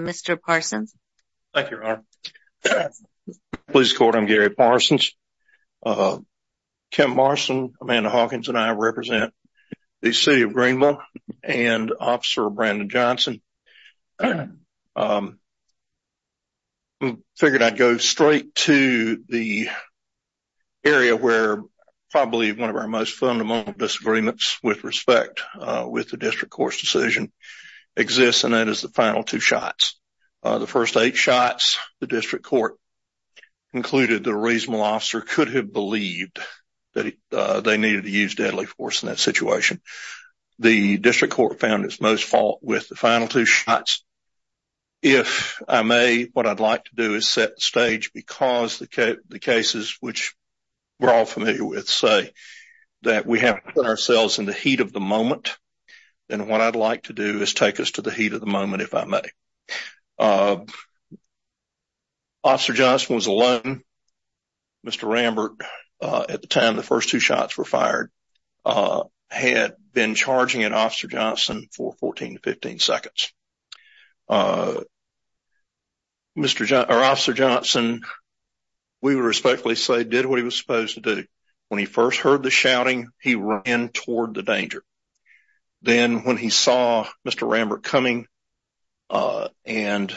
Mr. Parsons. Thank you, Your Honor. Please record, I'm Gary Parsons. Kim Parsons, Amanda Hawkins, and I represent the City of Greenville and Officer Brandon Johnson. I figured I'd go straight to the area where probably one of our most fundamental disagreements with respect with the District Court's decision exists and that is the final two shots. The first eight shots, the District Court concluded the reasonable officer could have believed that they needed to use deadly force in that situation. The District Court found its most fault with the final two shots. If I may, what I'd like to do is set the stage because the cases which we're all familiar with say that we have put ourselves in the heat of the moment, and what I'd like to do is take us to the heat of the moment, if I may. Officer Johnson was alone. Mr. Rambert, at the time the first two shots were fired, had been charging at Officer Johnson for 14 to 15 seconds. Officer Johnson, we would respectfully say, did what he was supposed to do. When he first heard the shouting, he ran toward the danger. Then when he saw Mr. Rambert coming and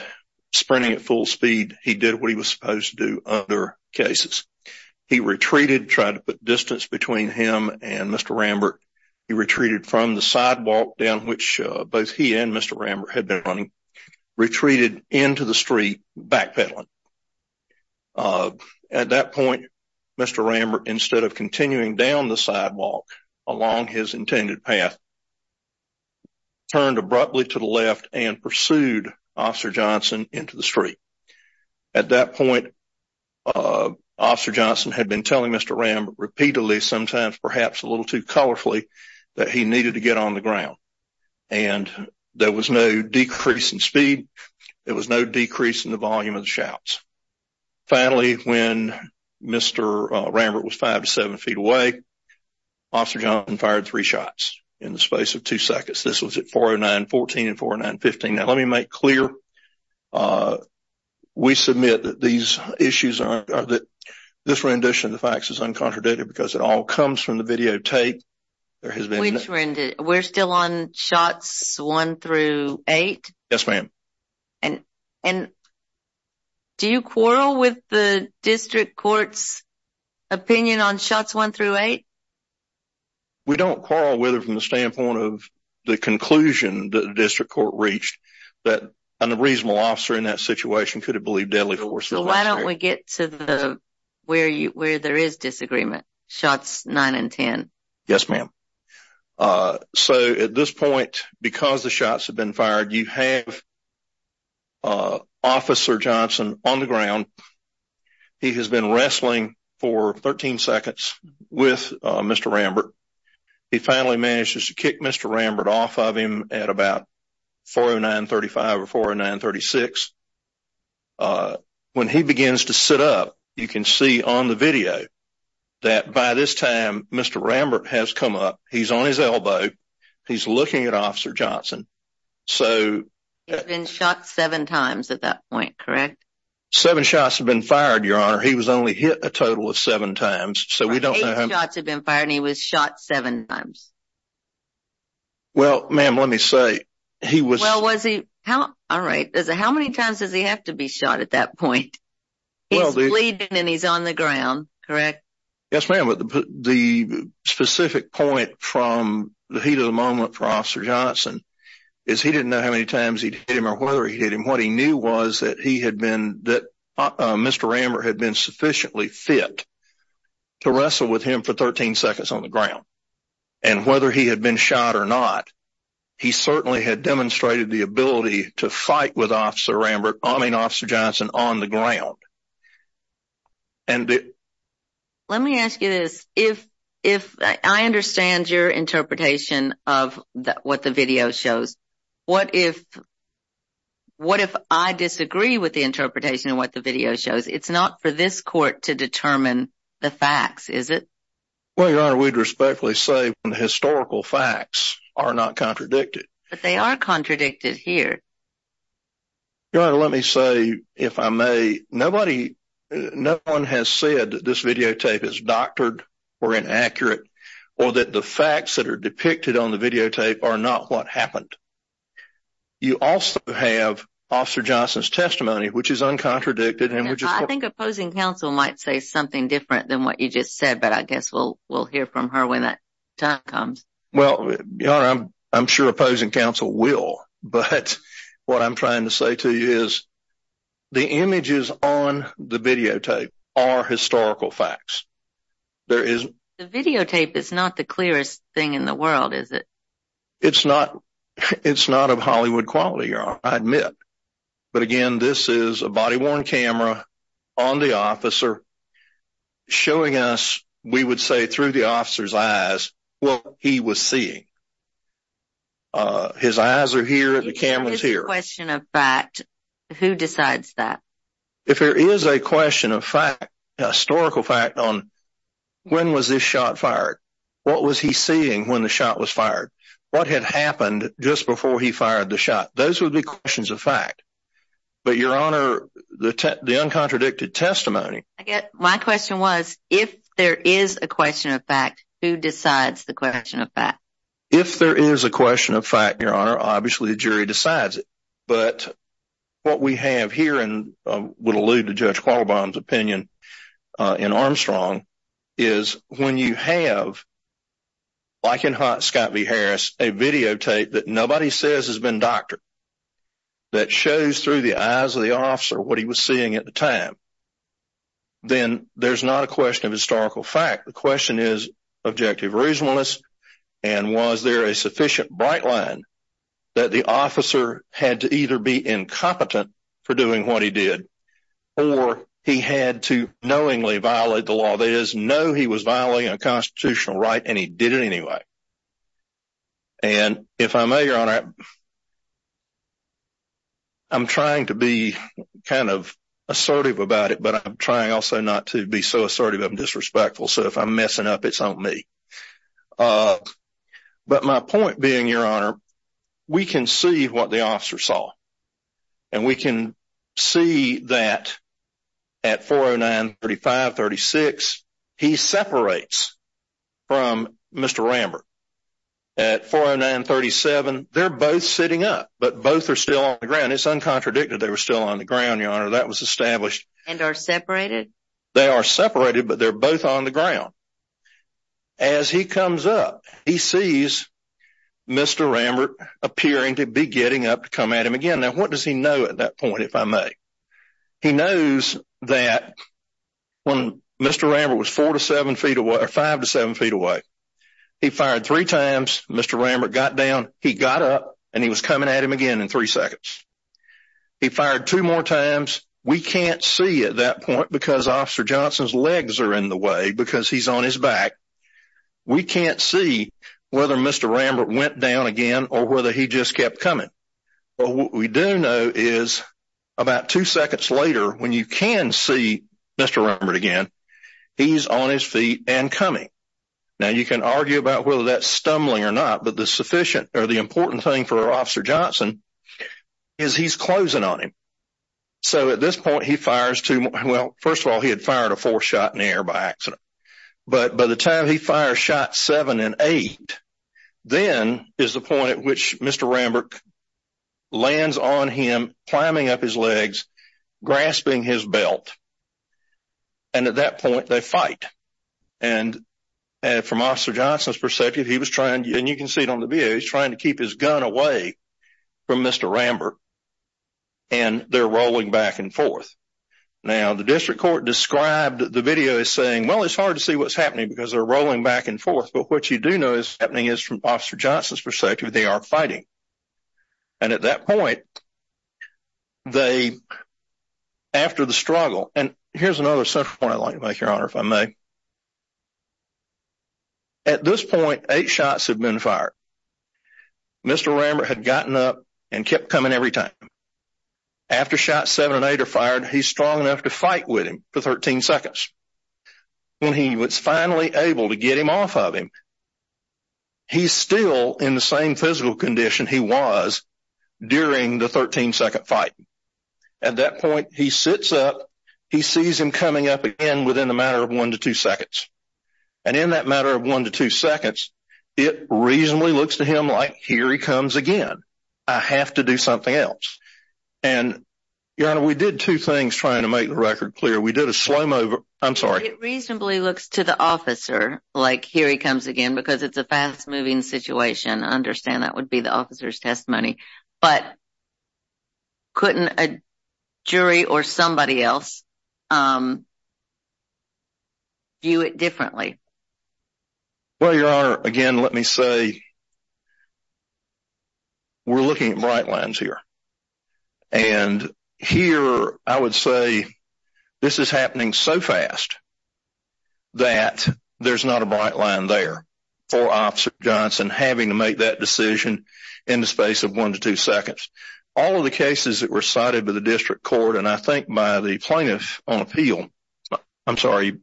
sprinting at full speed, he did what he was supposed to do in other cases. He retreated, tried to put distance between him and Mr. Rambert. He retreated from the sidewalk down which both he and Mr. Rambert had been running, retreated into the street backpedaling. At that point, Mr. Rambert, instead of continuing down the sidewalk along his intended path, turned abruptly to the left and pursued Officer Johnson into the street. At that point, Officer Johnson had been telling Mr. Rambert repeatedly, sometimes perhaps a little too colorfully, that he needed to get on the ground. There was no decrease in speed. There was no decrease in the volume of the shouts. Finally, when Mr. Rambert was five to seven feet away, Officer Johnson fired three shots in the space of two seconds. This was at 4.09.14 and 4.09.15. Now let me make it clear. We submit that this rendition of the facts is uncontradicted because it all comes from the videotape. We're still on shots one through eight? Yes, ma'am. Do you quarrel with the District Court's opinion on shots one through eight? We don't quarrel with it from the standpoint of the conclusion that the District Court reached that a reasonable officer in that situation could have believed deadly force. Why don't we get to where there is disagreement? Shots nine and ten? Yes, ma'am. So at this point, because the shots had been fired, you have Officer Johnson on the ground. He has been wrestling for 13 seconds with Mr. Rambert. He finally manages to kick Mr. Rambert off of him at about 4.09.35 or 4.09.36. When he begins to sit up, you can see on the video that by this time, Mr. Rambert has come up. He's on his elbow. He's looking at Officer Johnson. He's been shot seven times at that point, correct? Seven shots have been fired, Your Honor. He was only hit a total of seven times, so we don't know how many. Eight shots have been fired and he was shot seven times. Well, ma'am, let me say, he was... How many times does he have to be shot at that point? He's bleeding and he's on the ground, correct? Yes, ma'am, but the specific point from the heat of the moment for Officer Johnson is he didn't know how many times he'd hit him or whether he'd hit him. What he knew was that Mr. Rambert had been sufficiently fit to wrestle with him for 13 seconds on the ground, and whether he had been shot or not, he certainly had demonstrated the ability to fight with Officer Johnson on the ground. Let me ask you this. I understand your interpretation of what the video shows. What if I disagree with the interpretation of what the video shows? It's not for this court to determine the facts, is it? Well, Your Honor, we'd respectfully say the historical facts are not contradicted. But they are contradicted here. Your Honor, let me say, if I may, nobody... No one has said that this videotape is doctored or inaccurate or that the facts that are depicted on the I think opposing counsel might say something different than what you just said, but I guess we'll hear from her when that time comes. Well, Your Honor, I'm sure opposing counsel will, but what I'm trying to say to you is the images on the videotape are historical facts. The videotape is not the clearest thing in the world, is it? It's not of Hollywood quality, Your Honor, I admit. But again, this is a body-worn camera on the officer showing us, we would say through the officer's eyes, what he was seeing. His eyes are here, the camera's here. If there is a question of fact, who decides that? If there is a question of fact, a historical fact on when was this shot fired? What was he seeing when the shot was fired? What had happened just before he fired the shot? Those would be questions of fact, but Your Honor, the uncontradicted testimony... I get, my question was, if there is a question of fact, who decides the question of fact? If there is a question of fact, Your Honor, obviously the jury decides it, but what we have here and would allude to Judge Scott v. Harris, a videotape that nobody says has been doctored, that shows through the eyes of the officer what he was seeing at the time, then there's not a question of historical fact. The question is objective reasonableness and was there a sufficient bright line that the officer had to either be incompetent for doing what he did or he had to knowingly violate the law. That is, no, he was violating a constitutional right and he did it anyway. And if I may, Your Honor, I'm trying to be kind of assertive about it, but I'm trying also not to be so assertive I'm disrespectful, so if I'm messing up, it's on me. But my point being, Your Honor, we can see what the officer saw and we can see that at 409-35-36, he separates from Mr. Rambert. At 409-37, they're both sitting up, but both are still on the ground. It's uncontradicted they were still on the ground, Your Honor, that was established. And are separated? They are separated, but they're both on the ground. As he comes up, he sees Mr. Rambert appearing to be getting up to come at him again. Now, what does he know at that point, if I may? He knows that when Mr. Rambert was four to seven feet away or five to seven feet away, he fired three times. Mr. Rambert got down, he got up and he was coming at him again in three seconds. He fired two more times. We can't see at that point because Officer Johnson's legs are in the way because he's on his back. We can't see whether Mr. Rambert went down again or whether he just kept coming. But what we do know is about two seconds later, when you can see Mr. Rambert again, he's on his feet and coming. Now, you can argue about whether that's stumbling or not, but the sufficient or the important thing for Officer Johnson is he's closing on him. So at this point, he fires two more. Well, first of all, he had fired a fourth shot in the air by accident. But by the time he fired shot seven and eight, then is the point at which Mr. Rambert lands on him, climbing up his legs, grasping his belt. And at that point, they fight. And from Officer Johnson's perspective, he was trying, and you can see it on the video, he's trying to keep his gun away from Mr. Rambert, and they're rolling back and forth. Now, the district court described the video as saying, well, it's hard to see what's happening because they're rolling back and forth. But what you do know is happening is from Officer Johnson's perspective, they are fighting. And at that point, they, after the struggle, and here's another central point I'd like to make, Your Honor, if I may. At this point, eight shots had been fired. Mr. Rambert had gotten up and kept coming every time. After shot seven and eight are fired, he's strong enough to fight with him for 13 seconds. When he was finally able to get him off of him, he's still in the same physical condition he was during the 13-second fight. At that point, he sits up. He sees him coming up again within a matter of one to two seconds. And in that matter of one to two seconds, it reasonably looks to him like, here he comes again. I have to do something else. And, Your Honor, we did two things trying to make the record clear. We did a slow-mo, I'm sorry. It reasonably looks to the officer like, here he comes again, because it's a fast-moving situation. I understand that would be the officer's testimony. But couldn't a jury or somebody else view it differently? Well, Your Honor, again, let me say that we're looking at bright lines here. And here, I would say this is happening so fast that there's not a bright line there for Officer Johnson having to make that decision in the space of one to two seconds. All of the cases that were cited by the District Court, and I think by the Plaintiff on Appeal, I'm sorry,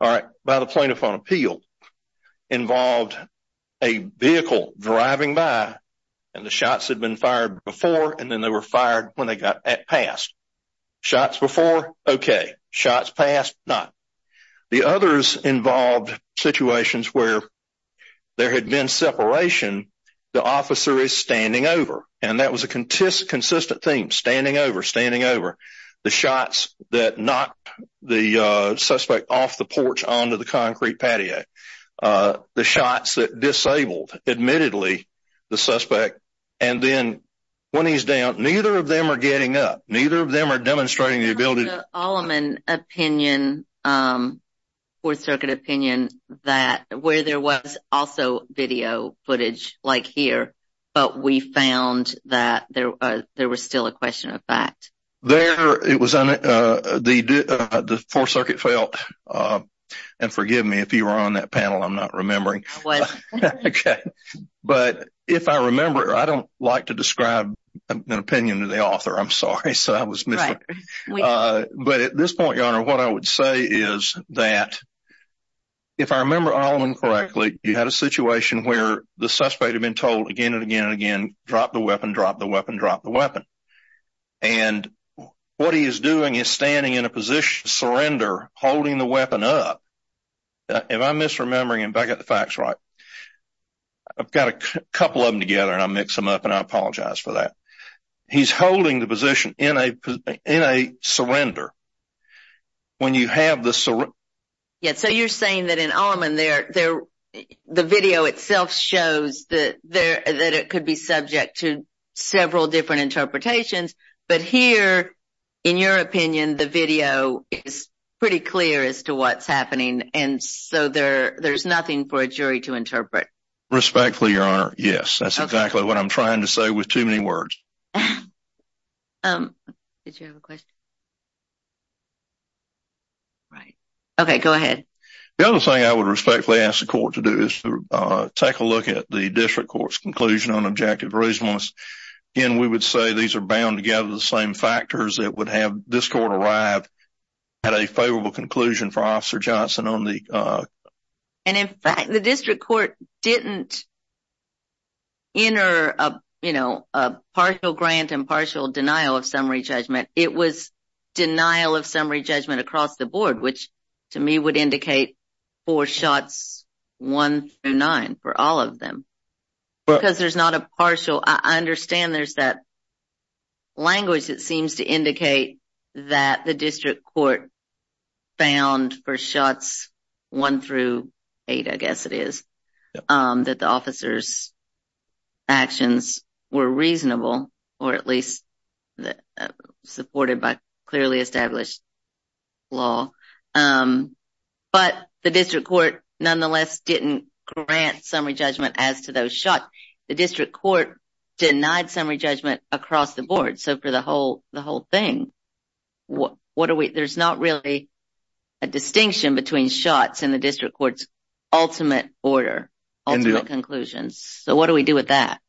all right, by the Plaintiff on Appeal, involved a vehicle driving by and the shots had been fired before and then they were fired when they got passed. Shots before, okay. Shots passed, not. The others involved situations where there had been separation, the officer is standing over. And that was a consistent theme, standing over, standing over. The shots that knocked the suspect off the porch onto the concrete patio. The shots that disabled, admittedly, the suspect. And then, when he's down, neither of them are getting up. Neither of them are demonstrating the ability to... I have an Alleman opinion, Fourth Circuit opinion, where there was also video footage, like here, but we found that there was still a question of fact. It was on the... The Fourth Circuit felt, and forgive me if you were on that panel, I'm not remembering, but if I remember, I don't like to describe an opinion to the author, I'm sorry, so I was missing. But at this point, Your Honor, what I would say is that, if I remember Alleman correctly, you had a situation where the suspect had been told again and again and again, drop the weapon, drop the weapon, drop the weapon. And what he is doing is standing in a position, surrender, holding the weapon up. If I'm misremembering and if I got the facts right, I've got a couple of them together and I mix them up and I apologize for that. He's holding the position in a surrender. When you have the... Yeah, so you're saying that in Alleman, the video itself shows that it could be subject to several different interpretations, but here, in your opinion, the video is pretty clear as to what's happening and so there's nothing for a jury to interpret. Respectfully, Your Honor, yes, that's exactly what I'm trying to say with too many words. Um, did you have a question? Right, okay, go ahead. The other thing I would respectfully ask the court to do is to take a look at the district court's conclusion on objective reasonableness. Again, we would say these are bound together the same factors that would have this court arrive at a favorable conclusion for Officer Johnson on the... And in fact, the district court didn't enter a partial grant and partial denial of summary judgment. It was denial of summary judgment across the board, which to me would indicate four shots, one through nine for all of them. Because there's not a partial... I understand there's that language that seems to bound for shots one through eight, I guess it is, that the officer's actions were reasonable, or at least supported by clearly established law. But the district court nonetheless didn't grant summary judgment as to those shots. The district court denied summary judgment across the board. So for the whole thing, what are we... There's not really a distinction between shots and the district court's ultimate order, ultimate conclusions. So what do we do with that?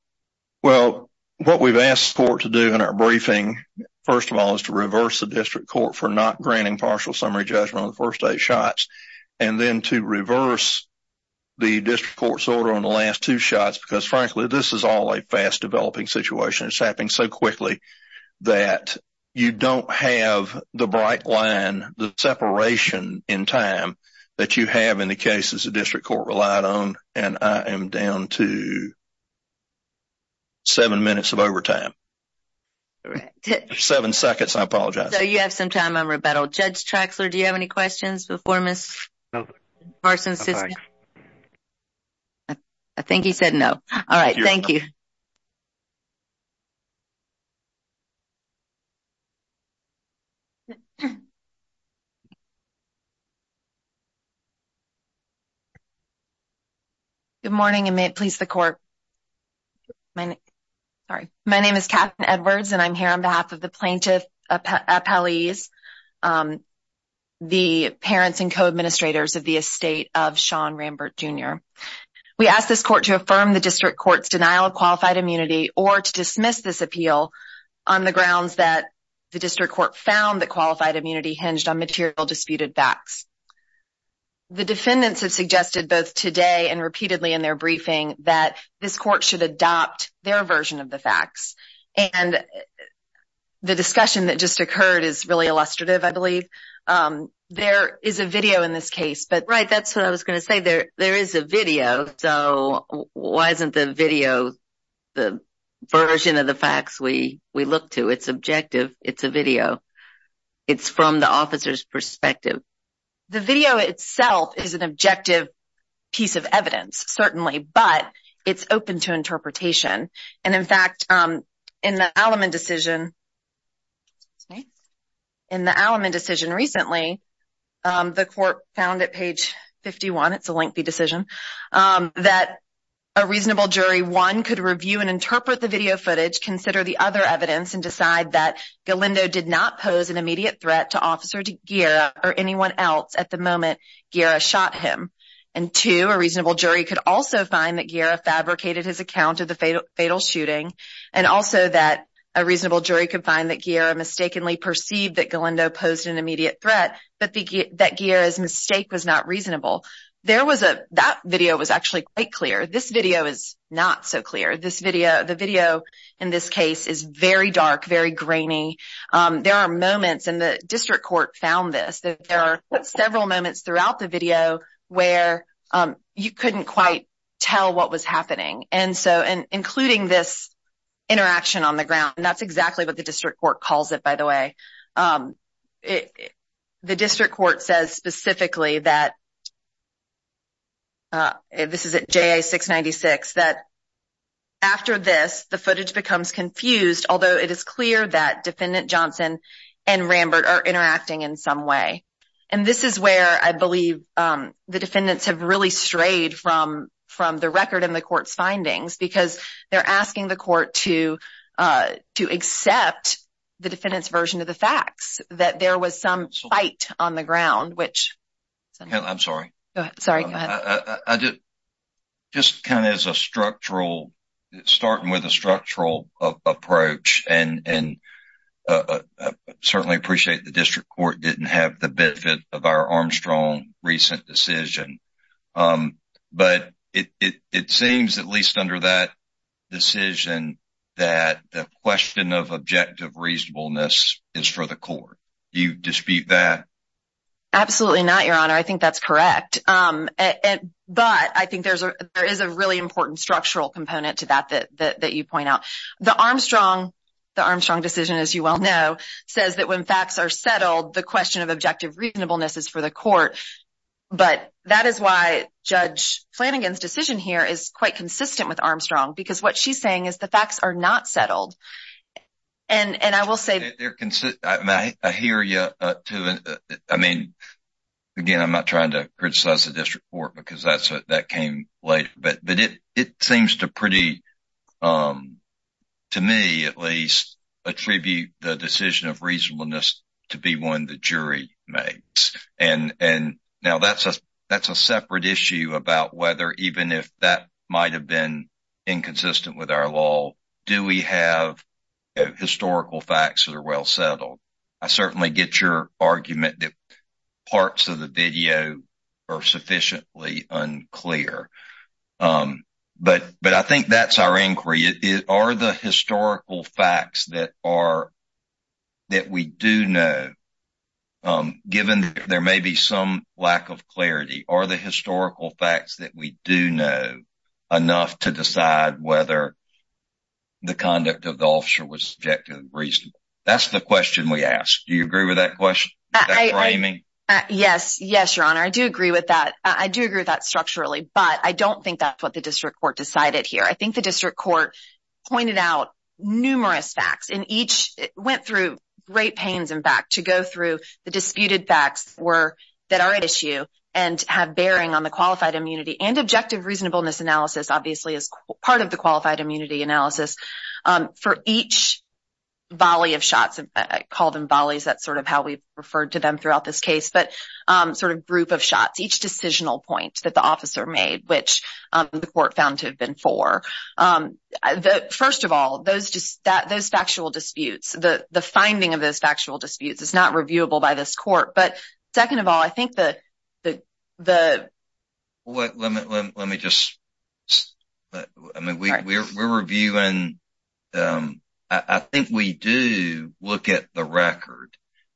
Well, what we've asked the court to do in our briefing, first of all, is to reverse the district court for not granting partial summary judgment on the first eight shots, and then to reverse the district court's order on the last two shots. Because frankly, this is all a fast developing situation. It's happening so quickly that you don't have the bright line, the separation in time that you have in the cases the district court relied on, and I am down to seven minutes of overtime. Seven seconds, I apologize. So you have some time, I'm rebuttal. Judge Traxler, do you have any questions before Ms. Sisson? I think he said no. All right, thank you. Good morning, and may it please the court. My name is Katherine Edwards, and I'm here on behalf of plaintiff appellees, the parents and co-administrators of the estate of Sean Rambert Jr. We ask this court to affirm the district court's denial of qualified immunity or to dismiss this appeal on the grounds that the district court found that qualified immunity hinged on material disputed facts. The defendants have suggested both today and repeatedly in their briefing that this discussion that just occurred is really illustrative, I believe. There is a video in this case. Right, that's what I was going to say. There is a video, so why isn't the video the version of the facts we look to? It's objective. It's a video. It's from the officer's perspective. The video itself is an objective piece of evidence, certainly, but it's open to discussion. In the Alleman decision recently, the court found at page 51, it's a lengthy decision, that a reasonable jury, one, could review and interpret the video footage, consider the other evidence, and decide that Galindo did not pose an immediate threat to Officer Ghira or anyone else at the moment Ghira shot him, and two, a reasonable jury could also find that Ghira fabricated his account of the fatal shooting, and also that a reasonable jury could find that Ghira mistakenly perceived that Galindo posed an immediate threat, but that Ghira's mistake was not reasonable. That video was actually quite clear. This video is not so clear. The video in this case is very dark, very grainy. There are moments, and the district court found this, that there are several moments throughout the video where you couldn't quite tell what was happening, including this interaction on the ground. That's exactly what the district court calls it, by the way. The district court says specifically that, this is at JA 696, that after this, the footage becomes confused, although it is clear that I believe the defendants have really strayed from the record in the court's findings, because they're asking the court to accept the defendant's version of the facts, that there was some fight on the ground. I'm sorry. Go ahead. Just kind of as a structural, starting with a structural approach, and I certainly appreciate the district court didn't have the benefit of our Armstrong recent decision, but it seems, at least under that decision, that the question of objective reasonableness is for the court. Do you dispute that? Absolutely not, Your Honor. I think that's correct, but I think there is a really important structural component to that that you point out. The Armstrong decision, as you well know, says that when facts are settled, the question of objective reasonableness is for the court, but that is why Judge Flanagan's decision here is quite consistent with Armstrong, because what she's saying is the facts are not settled. Again, I'm not trying to criticize the district court, because that came later, but it seems to pretty, to me at least, attribute the decision of reasonableness to be one the jury makes. Now, that's a separate issue about whether even if that might have been inconsistent with our law, do we have historical facts that are well settled? I certainly get your argument that parts of the video are sufficiently unclear, but I think that's our inquiry. Are the historical facts that we do know, given that there may be some lack of clarity, are the historical facts that we do know enough to ask? Do you agree with that framing? Yes, your honor. I do agree with that structurally, but I don't think that's what the district court decided here. I think the district court pointed out numerous facts, and each went through great pains, in fact, to go through the disputed facts that are at issue and have bearing on the qualified immunity, and objective reasonableness analysis obviously is part of the qualified immunity analysis. For each volley of shots, I call them volleys, that's sort of how we've referred to them throughout this case, but sort of group of shots, each decisional point that the officer made, which the court found to have been four. First of all, those factual disputes, the finding of those factual disputes is not reviewable by this court, but second of all, I think that the... Let me just, I mean, we're reviewing, I think we do look at the record,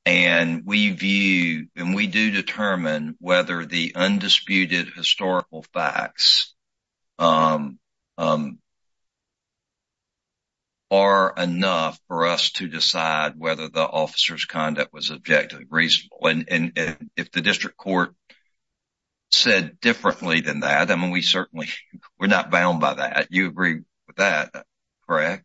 and we view, and we do determine whether the undisputed historical facts are enough for us to decide whether the officer's conduct was objectively reasonable, and if the district court said differently than that, I mean, we certainly, we're not bound by that. You agree with that, correct?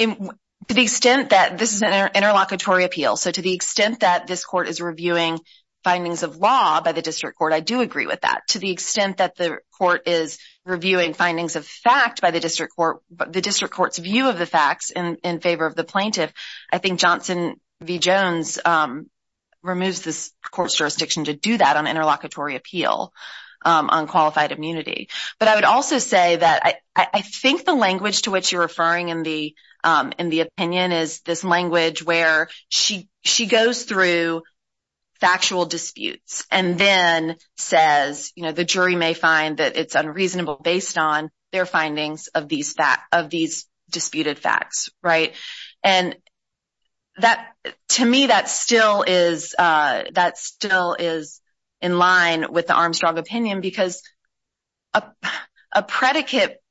To the extent that this is an interlocutory appeal, so to the extent that this court is reviewing findings of law by the district court, I do agree with that. To the extent that the court is reviewing findings of fact by the district court, the district court's view of the facts in favor of the plaintiff, I think Johnson v. Jones removes this court's jurisdiction to do that on interlocutory appeal on qualified immunity, but I would also say that I think the language to which you're referring in the opinion is this language where she goes through factual disputes and then says, you know, the jury may find that it's unreasonable based on their findings of these disputed facts, right? And to me, that still is in line with the Armstrong opinion because a predicate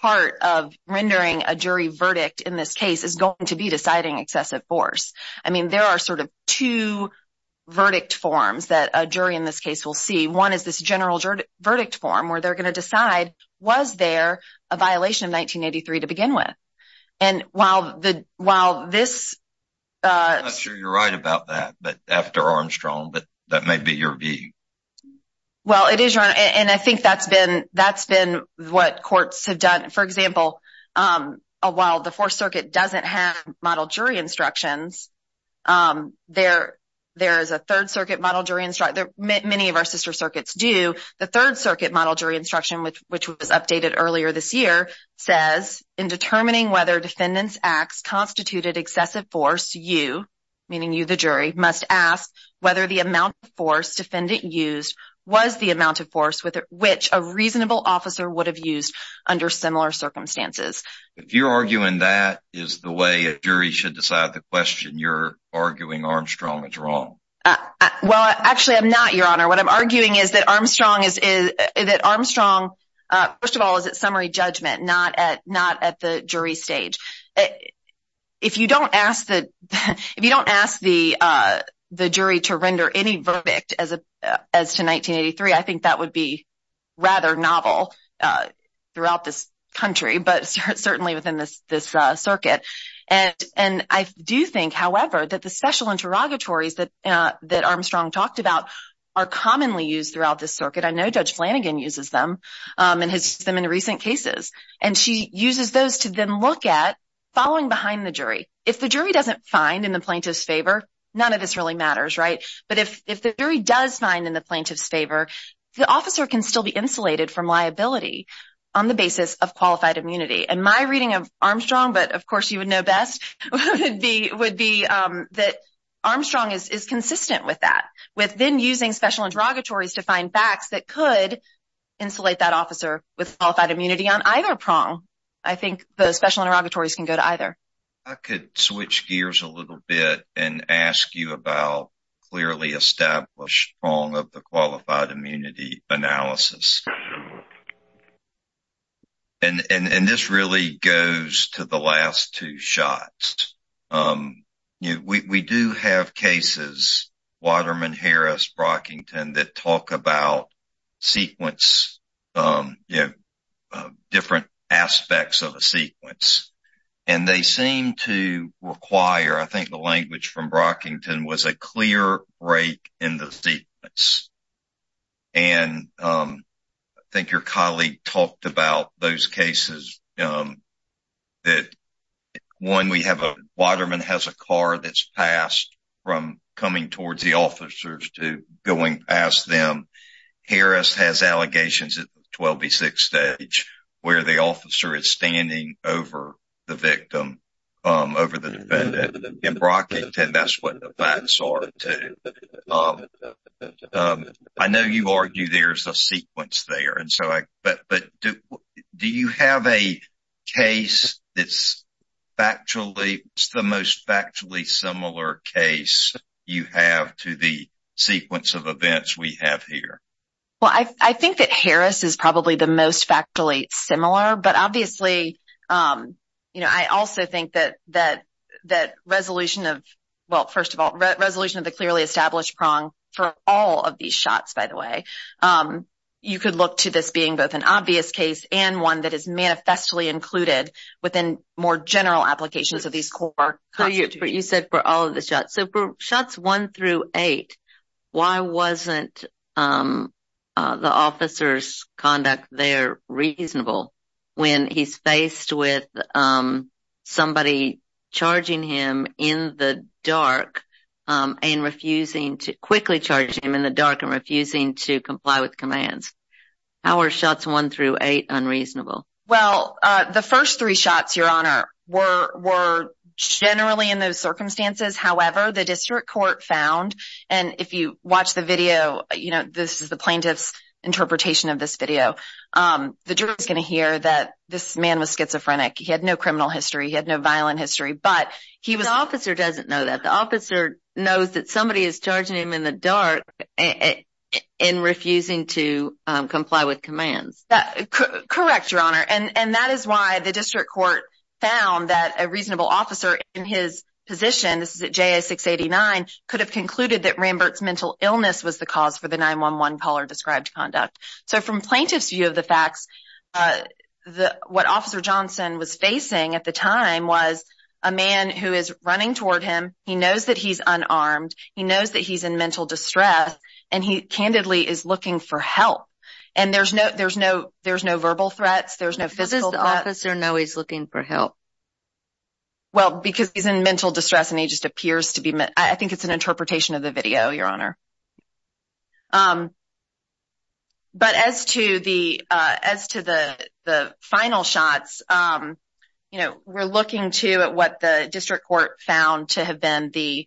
part of rendering a jury verdict in this case is going to be deciding excessive force. I mean, there are sort of two verdict forms that a jury in this case will see. One is this general verdict form where they're going to decide, was there a violation of 1983 to begin with? I'm not sure you're right about that after Armstrong, but that may be your view. Well, it is, Your Honor, and I think that's been what courts have done. For example, while the Fourth Circuit doesn't have model jury instructions, there is a Third Circuit model jury instruction. Many of our sister circuits do. The Third Circuit model jury instruction, which was updated earlier this year, says in determining whether defendants acts constituted excessive force, you, meaning you the jury, must ask whether the amount of force defendant used was the amount of force with which a reasonable officer would have used under similar circumstances. If you're arguing that is the way a jury should decide the question, you're arguing Armstrong is wrong. Well, actually, I'm not, Your Honor. What I'm arguing is that Armstrong is, first of all, is at summary judgment, not at the jury stage. If you don't ask the jury to render any verdict as to 1983, I think that would be rather novel throughout this country, but certainly within this circuit. I do think, however, that the special interrogatories that Armstrong talked about are commonly used throughout this circuit. I know Judge Flanagan uses them and has used them in recent cases, and she uses those to then look at following behind the jury. If the jury doesn't find in the plaintiff's favor, none of this really matters, right? But if the jury does find in the plaintiff's favor, the officer can still be insulated from liability on the basis of qualified immunity. And my reading of Armstrong, but of course you would know best, would be that Armstrong is consistent with that, with then using special interrogatories to find facts that could insulate that officer with qualified immunity on either prong. I think the special interrogatories can go to either. I could switch gears a little bit and ask you about clearly established prong of the qualified Brockington that talk about sequence, you know, different aspects of a sequence. And they seem to require, I think the language from Brockington was a clear break in the sequence. And I think your colleague talked about those cases that, one, Waterman has a car that's passed from coming towards the officers to going past them. Harris has allegations at the 12B6 stage where the officer is standing over the victim, over the defendant. In Brockington, that's what the facts are, too. I know you argue there's a sequence there, but do you have a case that's the most factually similar case you have to the sequence of events we have here? Well, I think that Harris is probably the most factually similar, but obviously, you know, I also think that resolution of, well, first of all, resolution of the clearly established prong for all of these shots, by the way, you could look to this being both an obvious case and one that is manifestly included within more general applications of these core constitutes. You said for all of the shots. So for shots one through eight, why wasn't the officer's conduct there reasonable when he's faced with somebody charging him in the dark and refusing to quickly unreasonable? Well, the first three shots, Your Honor, were generally in those circumstances. However, the district court found, and if you watch the video, you know, this is the plaintiff's interpretation of this video. The jury is going to hear that this man was schizophrenic. He had no criminal history. He had no violent history, but the officer doesn't know that. The officer knows that somebody is charging him in the dark and refusing to comply with commands. Correct, Your Honor. And that is why the district court found that a reasonable officer in his position, this is at JA-689, could have concluded that Rambert's mental illness was the cause for the 911 caller described conduct. So from plaintiff's view of the facts, what Officer Johnson was facing at the time was a man who is running toward him. He knows that he's unarmed. He knows that he's in mental distress, and he candidly is looking for help. And there's no verbal threats. There's no physical threats. How does the officer know he's looking for help? Well, because he's in mental distress and he just appears to be. I think it's an interpretation of the video, Your Honor. But as to the final shots, you know, we're looking to what the district court found to have been the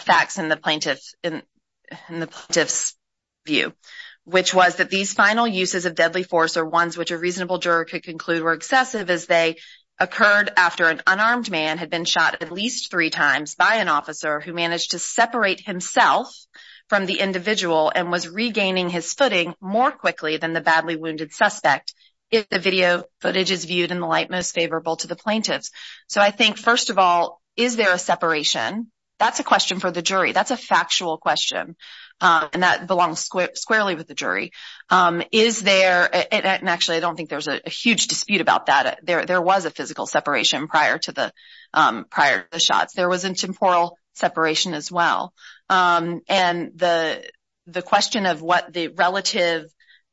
facts in the plaintiff's view, which was that these final uses of deadly force are ones which a reasonable juror could conclude were excessive as they occurred after an unarmed man had been shot at least three times by an officer who managed to separate himself from the individual and was regaining his footing more quickly than the badly wounded suspect, if the video footage is viewed in the light most favorable to the plaintiffs. So I think, first of all, is there a separation? That's a question for the jury. That's a factual question, and that belongs squarely with the jury. Is there, and actually I don't think there's a huge dispute about that, there was a physical separation prior to the prior shots. There was a temporal separation as well. And the question of what the relative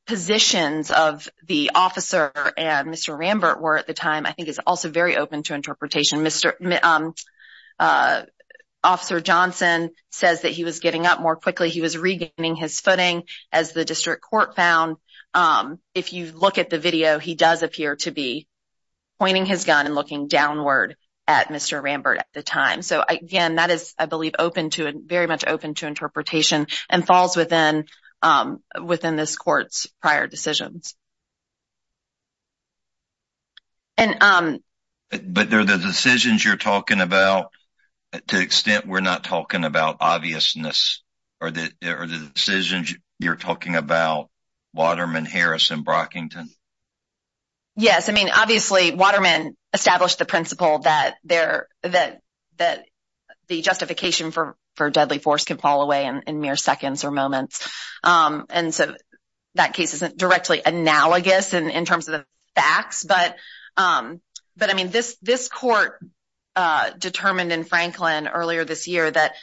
positions of the officer and Mr. Rambert were at the time, I think is also very open to interpretation. Officer Johnson says that he was getting up more quickly, he was regaining his footing as the district court found. If you look at the video, he does appear to be pointing his gun and looking downward at Mr. Rambert at the time. So again, that is, I believe, very much open to interpretation and falls within this court's prior decisions. But they're the decisions you're talking about to the extent we're not talking about obviousness. Are the decisions you're talking about Waterman, Harris, and Brockington? Yes. I mean, obviously, Waterman established the principle that the justification for deadly force can fall away in mere seconds or moments. And so that case isn't directly analogous in terms of the facts. But I mean, this court determined in Franklin earlier this year that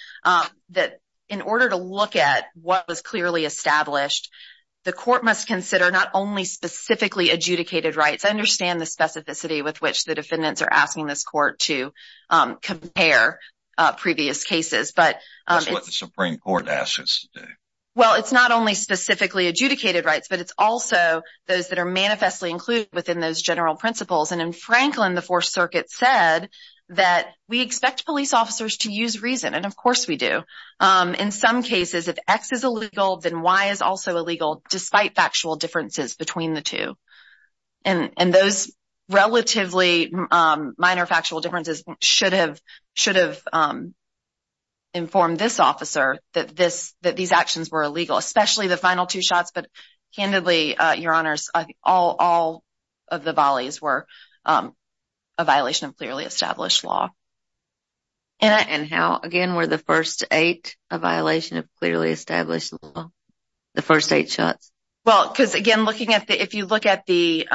in order to look at what was clearly established, the court must consider not only specifically adjudicated rights. I understand the specificity with which the defendants are asking this court to compare previous cases. That's what the Supreme Court asks us to do. Well, it's not only specifically adjudicated rights, but it's also those that are manifestly included within those general principles. And in Franklin, the Fourth Circuit said that we expect police officers to use reason, and of course we do. In some cases, if X is illegal, then Y is also illegal, despite factual differences between the two. And those relatively minor factual differences should have informed this officer that these actions were illegal, especially the final two shots. But candidly, Your Honors, all of the volleys were a violation of clearly established law. And how, again, were the first eight a violation of clearly established law? The first eight shots? Well, because again, if you look at the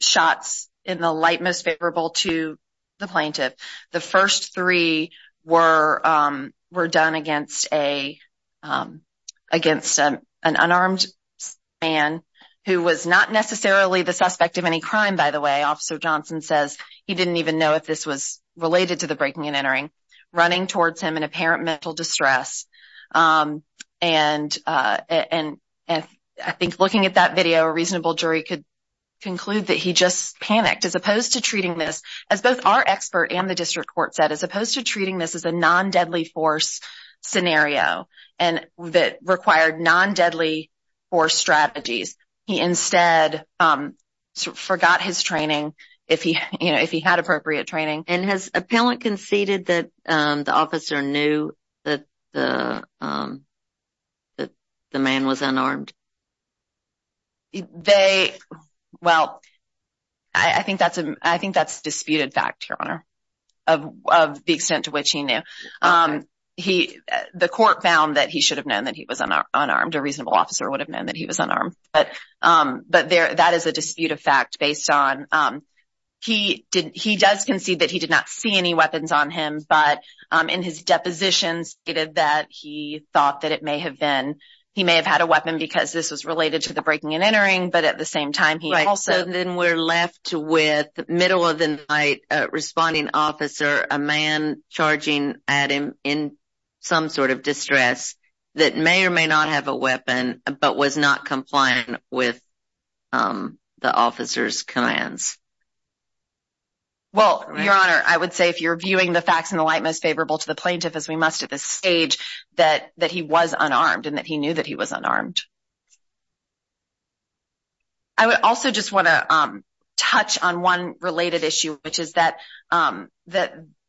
shots in the light most favorable to the plaintiff, the first three were done against an unarmed man who was not necessarily the suspect of any crime, by the way. Officer Johnson says he didn't even know if this was related to the breaking and entering, running towards him in apparent mental distress. And I think looking at that video, a reasonable jury could conclude that he just panicked. As opposed to treating this as both expert and the district court said, as opposed to treating this as a non-deadly force scenario and that required non-deadly force strategies, he instead forgot his training if he had appropriate training. And has appellant conceded that the officer knew that the man was of the extent to which he knew. The court found that he should have known that he was unarmed. A reasonable officer would have known that he was unarmed. But that is a dispute of fact based on he does concede that he did not see any weapons on him, but in his depositions stated that he thought that it may have been, he may have had a weapon because this was related to the breaking and entering, but at the same time, he also, then we're left with the middle of the night responding officer, a man charging at him in some sort of distress that may or may not have a weapon but was not compliant with the officer's commands. Well, your honor, I would say if you're viewing the facts in the light, most favorable to the plaintiff as we must at this stage, that he was unarmed and that he knew that he was unarmed. I would also just want to touch on one related issue, which is that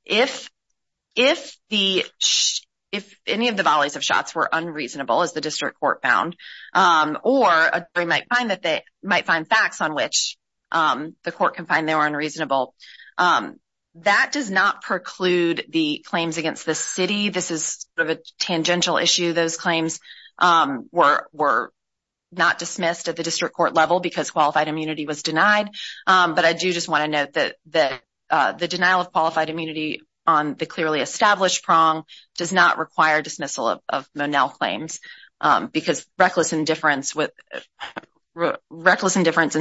if any of the volleys of shots were unreasonable, as the district court found, or a jury might find facts on which the court can find they were unreasonable, that does not preclude the claims against the city. This is sort of a tangential issue. Those claims were not dismissed at the district court level because qualified immunity was denied, but I do just want to note that the denial of qualified immunity on the clearly established prong does not require dismissal of Monell claims because reckless indifference in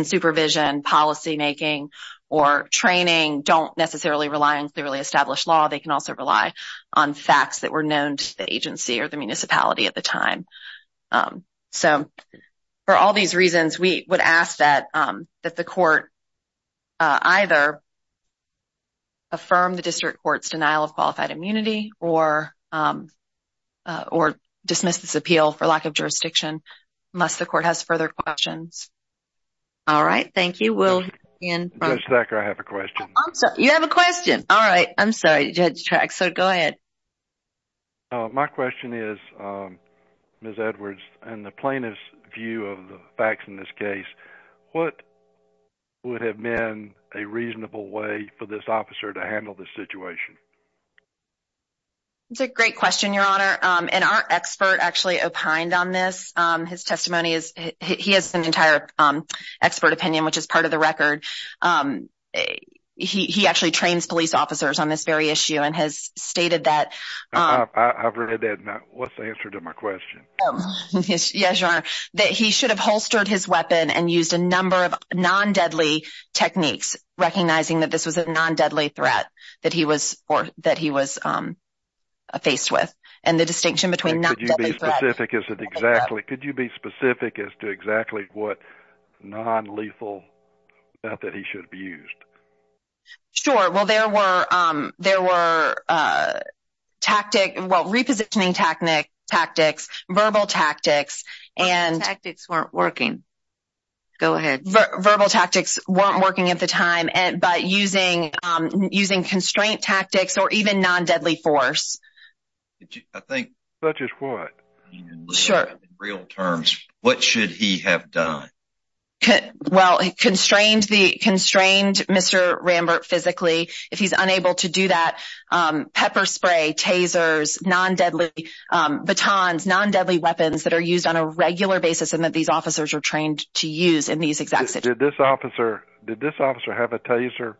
supervision, policymaking, or training don't necessarily rely on clearly established law. They can also rely on facts that were known to the agency or the municipality at the time. So, for all these reasons, we would ask that the court either affirm the district court's denial of qualified immunity or dismiss this appeal for lack of jurisdiction unless the court has further questions. All right, thank you. Does Zachary have a question? You have a question? All right, I'm sorry, Judge Traxford, go ahead. My question is, Ms. Edwards, in the plaintiff's view of the facts in this case, what would have been a reasonable way for this officer to handle this situation? It's a great question, your honor, and our expert actually opined on this. His testimony is, he has an entire expert opinion, which is part of the record. He actually trains police officers on this very issue and has stated that. I've read that, and what's the answer to my question? Yes, your honor, that he should have holstered his weapon and used a number of non-deadly techniques, recognizing that this was a non-deadly threat that he was faced with, and the distinction between non-deadly threat and deadly threat. Could you be specific as to exactly what non-lethal method he should have used? Sure, well, there were, there were tactic, well, repositioning tactics, verbal tactics. Verbal tactics weren't working. Go ahead. Verbal tactics weren't working at the time, but using constraint tactics or even non-deadly force. I think. Such as what? Sure. Real terms, what should he have done? Well, he constrained the, constrained Mr. Rambert physically. If he's unable to do that, pepper spray, tasers, non-deadly batons, non-deadly weapons that are used on a regular basis and that these officers are trained to use in these exact situations. Did this officer, did this officer have a taser?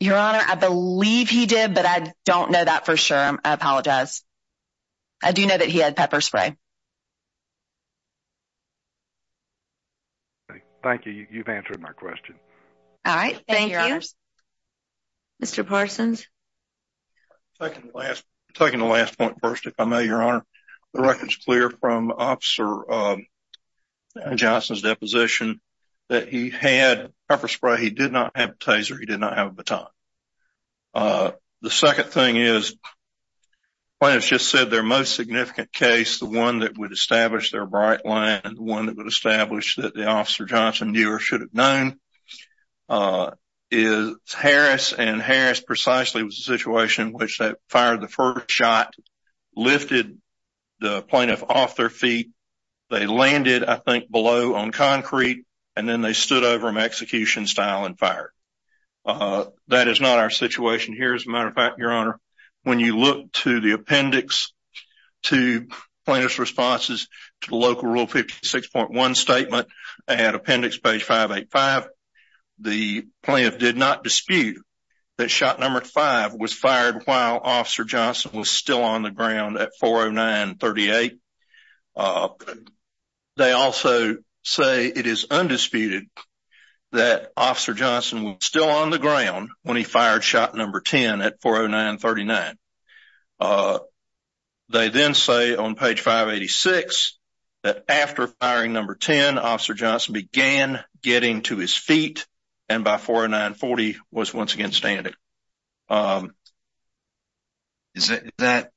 Your Honor, I believe he did, but I don't know that for sure. I apologize. I do know that he had pepper spray. Okay. Thank you. You've answered my question. All right. Thank you. Thank you, Your Honors. Mr. Parsons. Taking the last, taking the last point first, if I may, Your Honor. The record's clear from Officer Johnson's deposition that he had pepper spray. He did not have a taser. He did not have a baton. The second thing is, the plaintiff's just said their most significant case, the one that would establish their bright line, the one that would establish that the Officer Johnson knew or should have known, is Harris and Harris precisely was a situation in which they fired the first shot, lifted the plaintiff off their feet, they landed, I think, below on concrete, and then they stood over him execution style and fired. That is not our situation here, as a matter of fact, Your Honor. When you look to the appendix to plaintiff's responses to the local Rule 56.1 statement, at appendix page 585, the plaintiff did not dispute that shot number five was fired while Officer Johnson was still on the ground at 409-38. They also say it is undisputed that Officer Johnson was still on the ground when he fired shot number 10 at 409-39. They then say on page 586 that after firing number 10, Officer Johnson began getting to his feet and by 409-40 was once again standing. Is that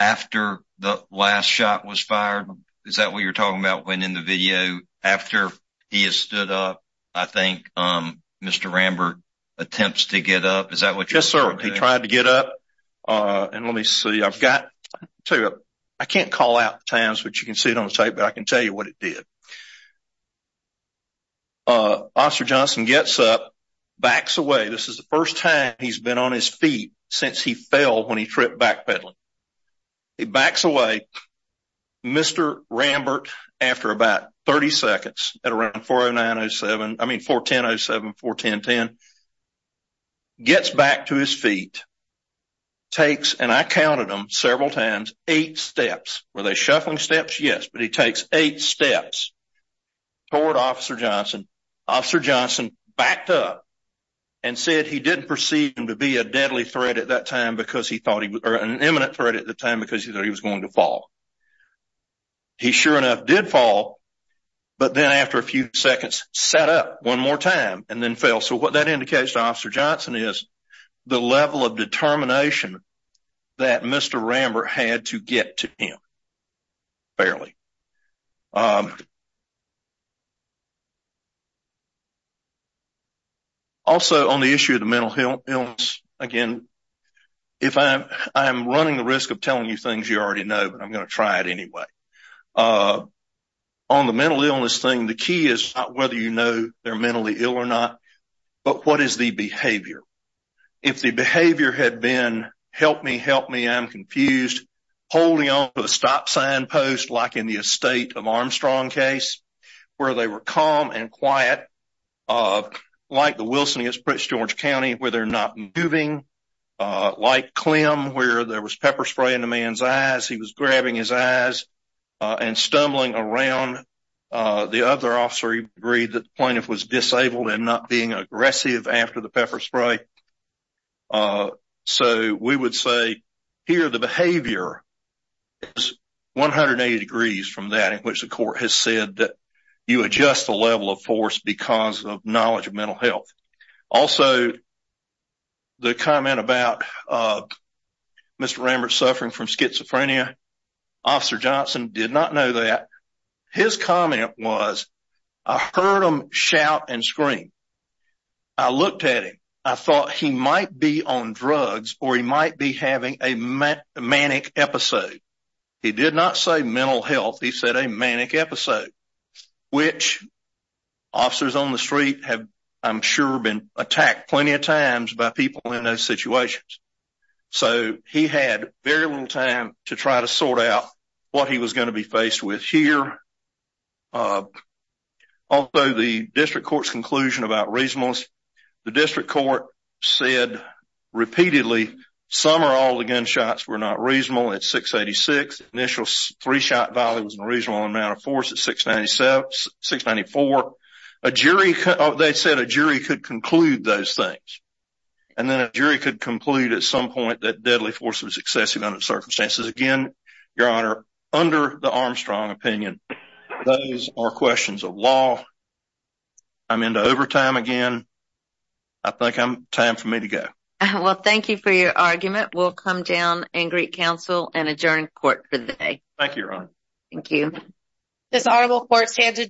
after the last shot was fired? Is that what you're talking about when in the video after he has stood up? I think Mr. Rambert attempts to get up. Is that what you're saying? Yes, sir. He tried to get up and let me see. I've got to I can't call out the times which you can see it on the tape, but I can tell you what it did. Officer Johnson gets up, backs away. This is the first time he's been on his feet since he fell when he tripped backpedaling. He backs away. Mr. Rambert, after about 30 seconds at around 409-07, I mean 410-07, 410-10, gets back to his feet, takes, and I counted them several times, eight steps. Were they shuffling steps? Yes, but he takes eight steps toward Officer Johnson. Officer Johnson backed up and said he didn't perceive him to be a deadly threat at that time because he thought he was an imminent threat at the time because he thought he was going to fall. He, sure enough, did fall, but then after a few seconds, sat up one more time and then fell. So what that indicates to Officer Johnson is the level of determination that Mr. Rambert had to get to him, barely. Also, on the issue of the mental illness, again, if I'm running the risk of telling you things you already know, but I'm going to try it anyway. On the mental illness thing, the key is not whether you know they're mentally ill or not, but what is the behavior? If the behavior had been, help me, help me, I'm confused, holding on to a stop sign post, like in the Estate of Armstrong case, where they were calm and quiet, like the Wilson v. Prince George County, where they're not moving, like Clem, where there was pepper spray in the man's eyes, he was grabbing his eyes and stumbling around. The other officer agreed that the plaintiff was disabled and not being aggressive after the pepper spray. So we would say here the behavior is 180 degrees from that, in which the court has said that you adjust the level of force because of knowledge of mental health. Also, the comment about Mr. Rambert suffering from schizophrenia, Officer Johnson did not know that. His comment was, I heard him shout and scream. I looked at him. I thought he might be on drugs or he might be having a manic episode. He did not say mental health, he said a manic episode, which officers on the street have, I'm sure, been attacked plenty of times by people in those situations. So he had very little time to try to sort out what he was going to be faced with here. Also, the District Court's conclusion about reasonableness, the District Court said repeatedly, some or all the gunshots were not reasonable at 686. Initial three shot value was a reasonable amount of force at 694. They said a jury could conclude those things. And then a jury could conclude at some point that deadly force was excessive under circumstances. Again, Your Honor, under the Armstrong opinion, those are questions of law. I'm into overtime again. I think time for me to go. Well, thank you for your argument. We'll come down and greet counsel and adjourn court for the day. Thank you, Your Honor. Thank you.